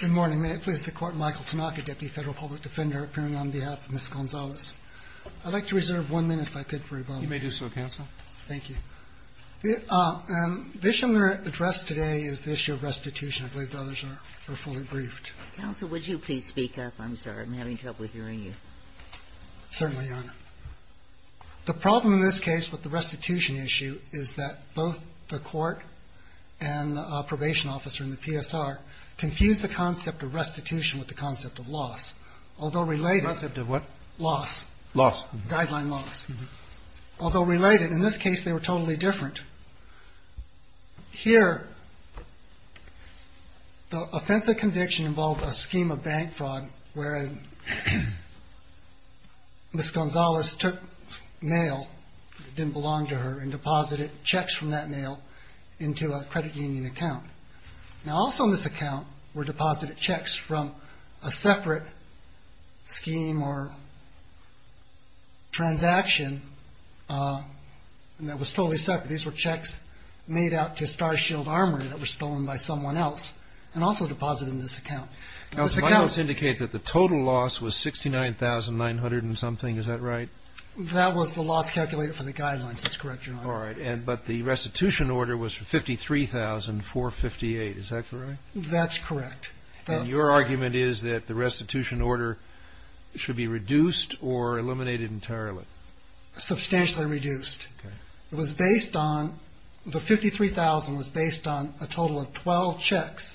Good morning. May it please the Court, Michael Tanaka, Deputy Federal Public Defender, appearing on behalf of Ms. Gonzalez. I'd like to reserve one minute, if I could, for rebuttal. You may do so, Counsel. Thank you. The issue I'm going to address today is the issue of restitution. I believe the others are fully briefed. Counsel, would you please speak up? I'm sorry. I'm having trouble hearing you. Certainly, Your Honor. The problem in this case with the restitution issue is that both the Court and the probation officer in the PSR confused the concept of restitution with the concept of loss, although related. The concept of what? Loss. Loss. Guideline loss. Although related, in this case they were totally different. Here, the offense of conviction involved a scheme of bank fraud where Ms. Gonzalez took mail that into a credit union account. Now, also in this account were deposited checks from a separate scheme or transaction that was totally separate. These were checks made out to Starshield Armory that were stolen by someone else and also deposited in this account. Counsel, my notes indicate that the total loss was $69,900 and something. Is that right? That was the loss calculated for the guidelines. That's correct, Your Honor. All right. But the restitution order was for $53,458. Is that correct? That's correct. And your argument is that the restitution order should be reduced or eliminated entirely? Substantially reduced. It was based on the $53,000 was based on a total of 12 checks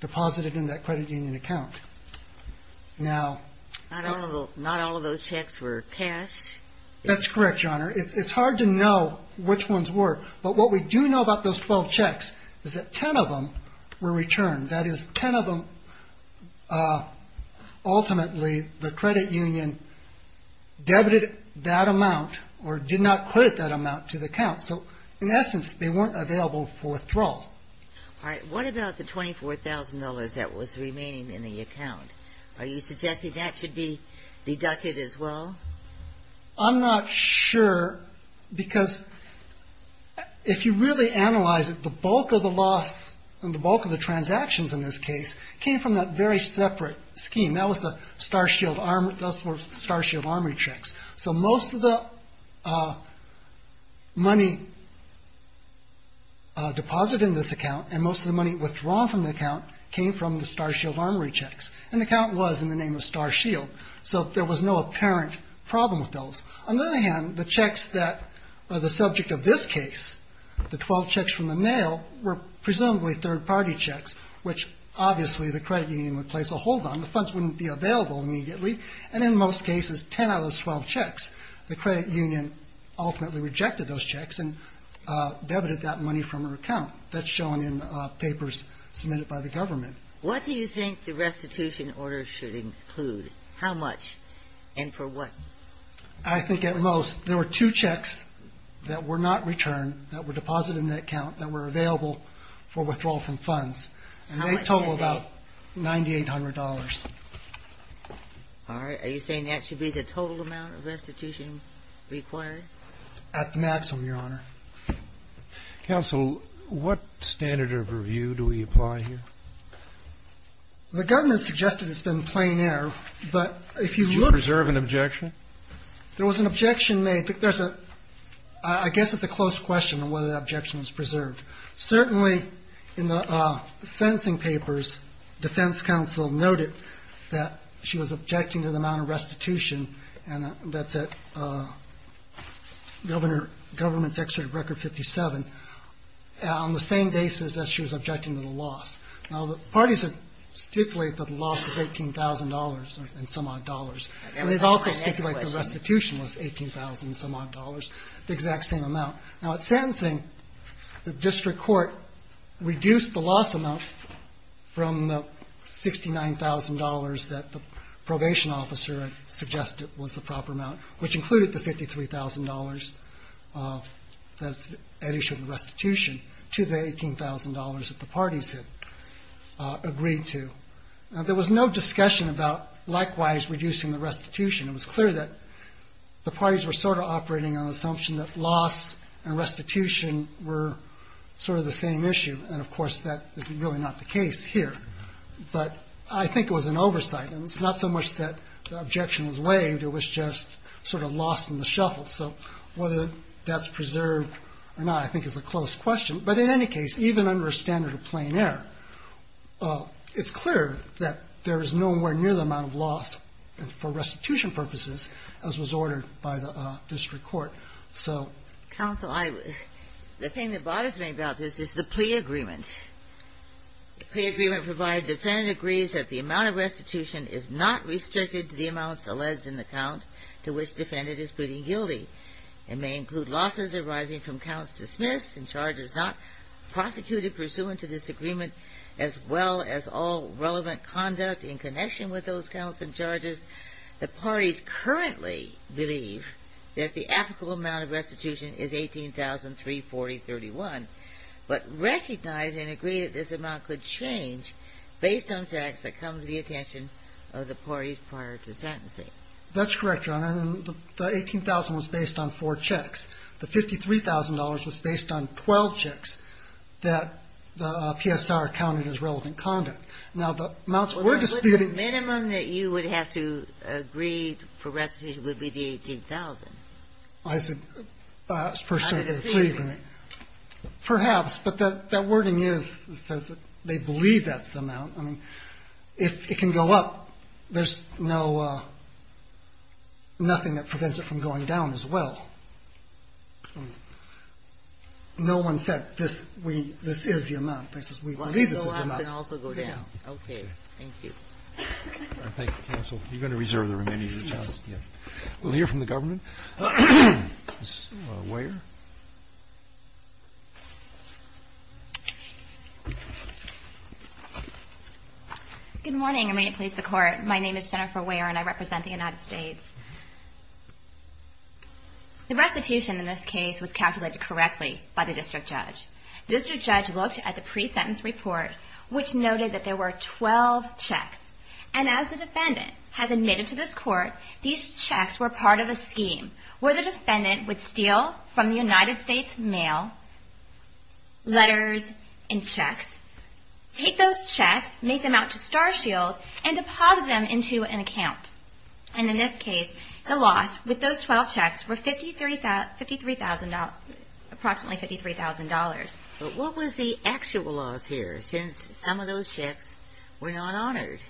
deposited in that credit union account. Now… Not all of those checks were cash? That's correct, Your Honor. It's hard to know which ones were. But what we do know about those 12 checks is that 10 of them were returned. That is, 10 of them, ultimately, the credit union debited that amount or did not credit that amount to the accounts. So, in essence, they weren't available for withdrawal. All right. What about the $24,000 that was remaining in the account? Are you suggesting that should be deducted as well? I'm not sure because if you really analyze it, the bulk of the loss and the bulk of the transactions in this case came from that very separate scheme. That was the Starshield Armory checks. So most of the money deposited in this account and most of the money withdrawn from the account came from the Starshield Armory checks. And the account was in the name of Starshield. So there was no apparent problem with those. On the other hand, the checks that are the subject of this case, the 12 checks from the nail, were presumably third-party checks, which obviously the credit union would place a hold on. The funds wouldn't be available immediately. And in most cases, 10 out of those 12 checks, the credit union ultimately rejected those checks and debited that money from her account. That's shown in papers submitted by the government. What do you think the restitution order should include? How much and for what? I think at most, there were two checks that were not returned, that were deposited in that account, that were available for withdrawal from funds. And they totaled about $9,800. All right. Are you saying that should be the total amount of restitution required? At the maximum, Your Honor. Counsel, what standard of review do we apply here? The government suggested it's been plain air, but if you look... Did you preserve an objection? There was an objection made. I guess it's a close question on whether the objection was preserved. Certainly, in the sentencing papers, defense counsel noted that she was objecting to the amount of restitution that's at government's excerpt of Record 57 on the same basis as she was objecting to the loss. Now, the parties have stipulated that the loss was $18,000 and some odd dollars. And they've also stipulated the restitution was $18,000 and some odd dollars, the exact same amount. Now, at sentencing, the district court reduced the loss amount from the $69,000 that the probation officer had suggested was the proper amount, which included the $53,000 that's at issue of the restitution, to the $18,000 that the parties had agreed to. Now, there was no discussion about likewise reducing the restitution. It was clear that the parties were sort of operating on the assumption that loss and restitution were sort of the same issue. And, of course, that is really not the case here. But I think it was an oversight. And it's not so much that the objection was waived. It was just sort of lost in the shuffle. So whether that's preserved or not, I think, is a close question. But in any case, even under a standard of plain error, it's clear that there is nowhere near the amount of loss for restitution purposes, as was ordered by the district court. So the thing that bothers me about this is the plea agreement. The plea agreement provided defendant agrees that the amount of restitution is not restricted to the amounts alleged in the count to which defendant is pleading guilty. It may include losses arising from counts dismissed and charges not prosecuted pursuant to this agreement, as well as all relevant conduct in connection with those counts and charges. The parties currently believe that the applicable amount of restitution is $18,340.31. But recognize and agree that this amount could change based on facts that come to the attention of the parties prior to sentencing. That's correct, Your Honor. The $18,000 was based on four checks. The $53,000 was based on 12 checks that the PSR counted as relevant conduct. Now, the amounts we're disputing- The minimum that you would have to agree for restitution would be the $18,000. I said pursuant to the plea agreement. Perhaps, but that wording is, it says that they believe that's the amount. I mean, if it can go up, there's no, nothing that prevents it from going down as well. No one said this is the amount. They said we believe this is the amount. It can also go down. Okay, thank you. All right, thank you, counsel. You're going to reserve the remainder of the testimony. Yes. We'll hear from the government. Ms. Weyer. Good morning, and may it please the Court. My name is Jennifer Weyer, and I represent the United States. The restitution in this case was calculated correctly by the district judge. The district judge looked at the pre-sentence report, which noted that there were 12 checks. And as the defendant has admitted to this Court, these checks were part of a scheme where the defendant would steal from the United States mail letters and checks, take those checks, make them out to Star Shields, and deposit them into an account. And in this case, the loss with those 12 checks were $53,000, approximately $53,000. But what was the actual loss here, since some of those checks were not honored?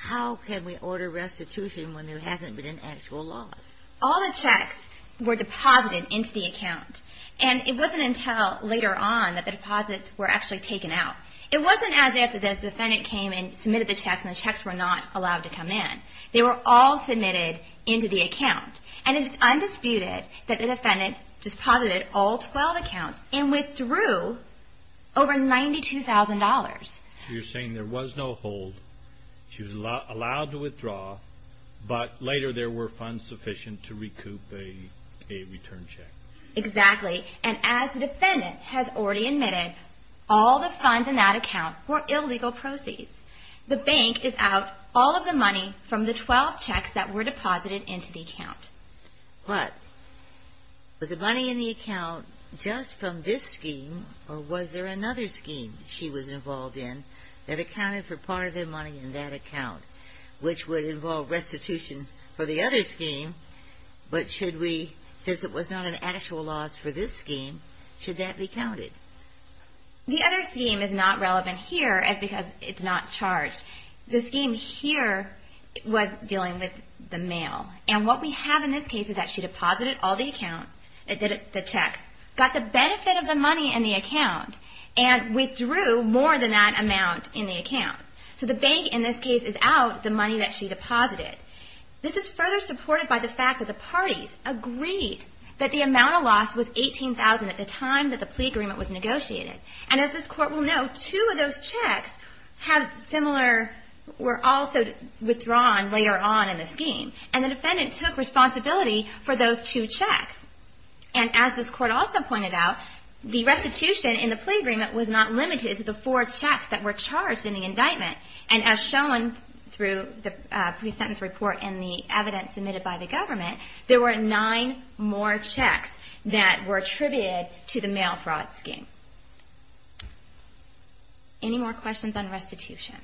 How can we order restitution when there hasn't been an actual loss? All the checks were deposited into the account. And it wasn't until later on that the deposits were actually taken out. It wasn't as if the defendant came and submitted the checks, and the checks were not allowed to come in. They were all submitted into the account. And it's undisputed that the defendant deposited all 12 accounts and withdrew over $92,000. So you're saying there was no hold, she was allowed to withdraw, but later there were funds sufficient to recoup a return check. Exactly. And as the defendant has already admitted, all the funds in that account were illegal proceeds. The bank is out all of the money from the 12 checks that were deposited into the account. But was the money in the account just from this scheme, or was there another scheme she was involved in that accounted for part of the money in that account, which would involve restitution for the other scheme? But should we, since it was not an actual loss for this scheme, should that be counted? The other scheme is not relevant here, as because it's not charged. The scheme here was dealing with the mail. And what we have in this case is that she deposited all the accounts, the checks, got the benefit of the money in the account, and withdrew more than that amount in the account. So the bank in this case is out the money that she deposited. This is further supported by the fact that the parties agreed that the amount of loss was $18,000 at the time that the plea agreement was negotiated. And as this Court will know, two of those checks have similar, were also withdrawn later on in the scheme. And the defendant took responsibility for those two checks. And as this Court also pointed out, the restitution in the plea agreement was not limited to the four checks that were charged in the indictment. And as shown through the pre-sentence report and the evidence submitted by the government, there were nine more checks that were attributed to the mail fraud scheme. Any more questions on restitution?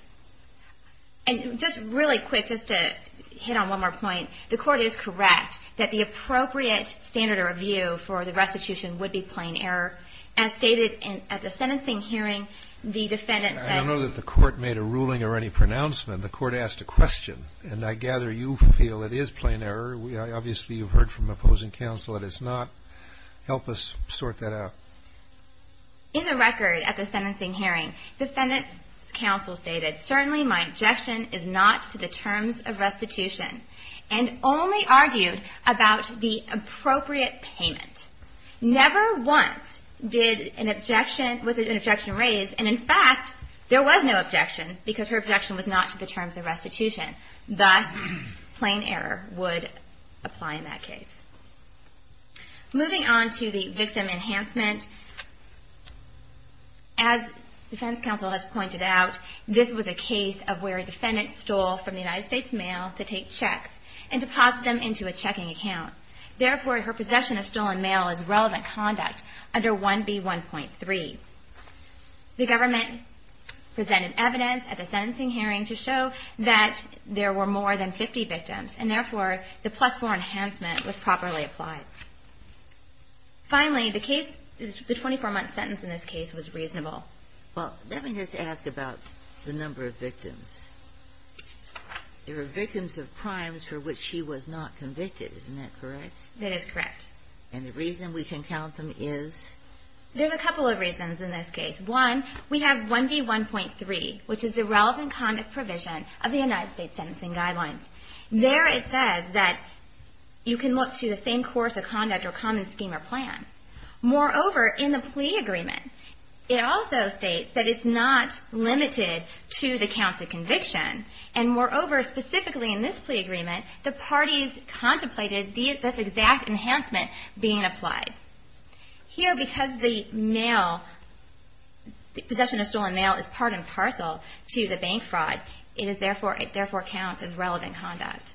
And just really quick, just to hit on one more point. The Court is correct that the appropriate standard of review for the restitution would be plain error. As stated at the sentencing hearing, the defendant said- I don't know that the Court made a ruling or any pronouncement. The Court asked a question. And I gather you feel it is plain error. Obviously, you've heard from opposing counsel that it's not. Help us sort that out. In the record at the sentencing hearing, the defendant's counsel stated, certainly my objection is not to the terms of restitution, and only argued about the appropriate payment. Never once did an objection, was an objection raised, and in fact, there was no objection because her objection was not to the terms of restitution. Thus, plain error would apply in that case. Moving on to the victim enhancement, as defense counsel has pointed out, this was a case of where a defendant stole from the United States mail to take checks and deposit them into a checking account. Therefore, her possession of stolen mail is relevant conduct under 1B1.3. The government presented evidence at the sentencing hearing to show that there were more than 50 victims, and therefore, the plus-4 enhancement was properly applied. Finally, the case- the 24-month sentence in this case was reasonable. Well, let me just ask about the number of victims. There were victims of crimes for which she was not convicted. Isn't that correct? That is correct. And the reason we can count them is? There's a couple of reasons in this case. One, we have 1B1.3, which is the relevant conduct provision of the United States sentencing guidelines. There it says that you can look to the same course of conduct or common scheme or plan. Moreover, in the plea agreement, it also states that it's not limited to the counts of conviction, and moreover, specifically in this plea agreement, the parties contemplated this exact enhancement being applied. Here, because the mail- the possession of stolen mail is part and parcel to the bank fraud, it is therefore- it therefore counts as relevant conduct.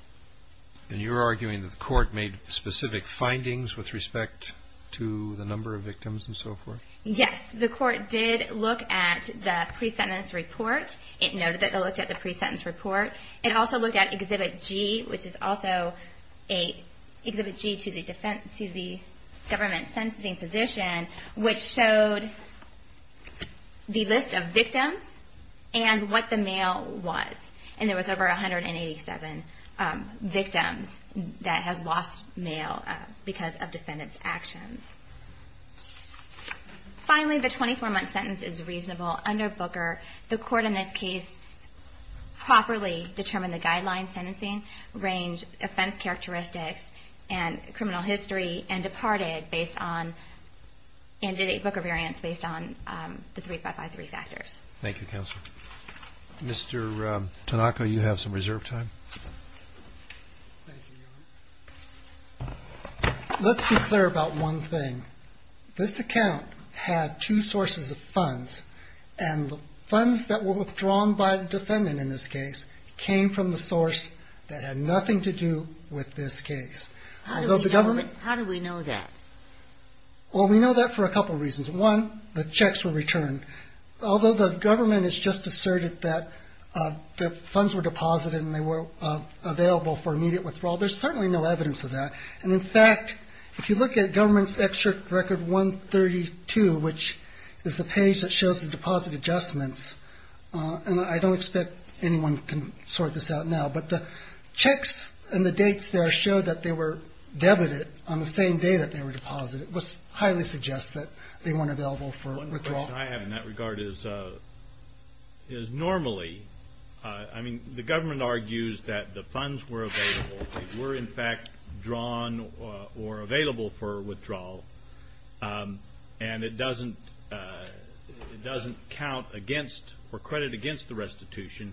And you're arguing that the court made specific findings with respect to the number of victims and so forth? Yes, the court did look at the pre-sentence report. It noted that it looked at the pre-sentence report. It also looked at Exhibit G, which is also a- Exhibit G to the defense- to the government sentencing position, which showed the list of victims and what the mail was. And there was over 187 victims that have lost mail because of defendants' actions. Finally, the 24-month sentence is reasonable under Booker. The court in this case properly determined the guidelines, sentencing range, offense characteristics, and criminal history, and departed based on- and did a Booker variance based on the 3553 factors. Thank you, Counselor. Mr. Tanaka, you have some reserve time. Let's be clear about one thing. This account had two sources of funds, and the funds that were withdrawn by the defendant in this case came from the source that had nothing to do with this case. Although the government- How do we know that? Well, we know that for a couple reasons. One, the checks were returned. Although the government has just asserted that the funds were deposited and they were available for immediate withdrawal, there's certainly no evidence of that. And in fact, if you look at Government's Excerpt Record 132, which is the page that shows the deposit adjustments, and I don't expect anyone can sort this out now, but the checks and the dates there show that they were debited on the same day that they were deposited, which highly suggests that they weren't available for withdrawal. One question I have in that regard is, normally, I mean, the government argues that the funds were available. They were, in fact, drawn or available for withdrawal. And it doesn't count against or credit against the restitution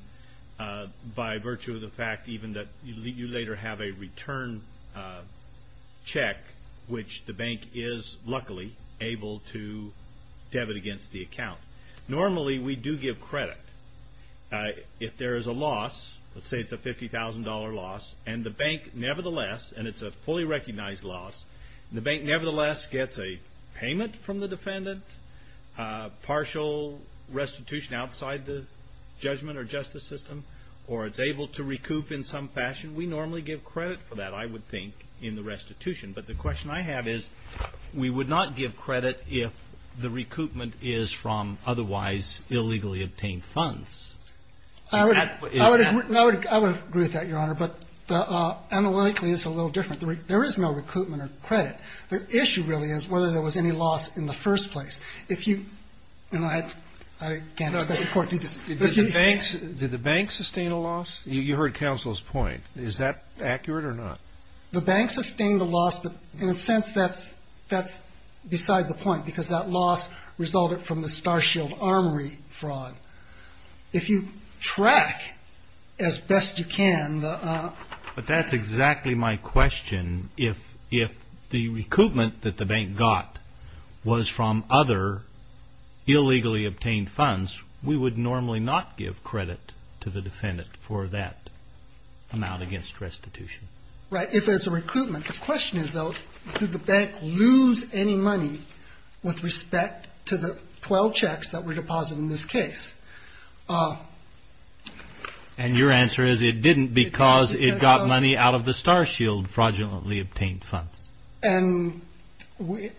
by virtue of the fact even that you later have a return check, which the bank is luckily able to debit against the account. Normally, we do give credit. If there is a loss, let's say it's a $50,000 loss, and the bank nevertheless, and it's a fully recognized loss, the bank nevertheless gets a payment from the defendant, partial restitution outside the judgment or justice system, or it's able to recoup in some fashion, we normally give credit for that, I would think, in the restitution. But the question I have is, we would not give credit if the recoupment is from otherwise illegally obtained funds. I would agree with that, Your Honor, but analytically, it's a little different. There is no recoupment or credit. The issue really is whether there was any loss in the first place. If you, you know, I can't expect the court to do this. Did the bank sustain a loss? You heard counsel's point. Is that accurate or not? The bank sustained a loss, but in a sense, that's beside the point, because that loss resulted from the Starshield Armory fraud. If you track as best you can... But that's exactly my question. If the recoupment that the bank got was from other illegally obtained funds, we would normally not give credit to the defendant for that amount against restitution. Right, if it's a recoupment. The question is, though, did the bank lose any money with respect to the 12 checks that were deposited in this case? And your answer is, it didn't because it got money out of the Starshield fraudulently obtained funds. And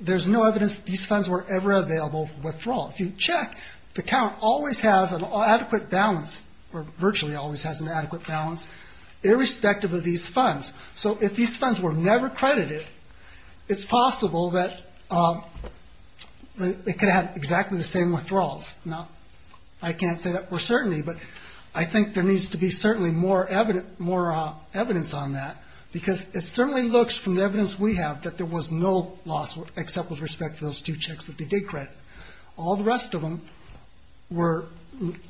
there's no evidence that these funds were ever available for withdrawal. If you check, the count always has an adequate balance, or virtually always has an adequate balance, irrespective of these funds. So if these funds were never credited, it's possible that they could have exactly the same withdrawals. Now, I can't say that for certainty, but I think there needs to be certainly more evidence on that, because it certainly looks, from the evidence we have, that there was no loss except with respect to those two checks that they did credit. All the rest of them were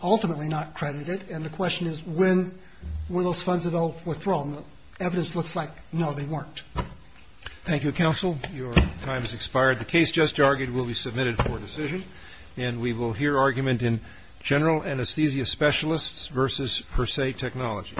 ultimately not credited. And the question is, were those funds available for withdrawal? And the evidence looks like, no, they weren't. Thank you, counsel. Your time has expired. The case just argued will be submitted for decision, and we will hear argument in general anesthesia specialists versus per se technology.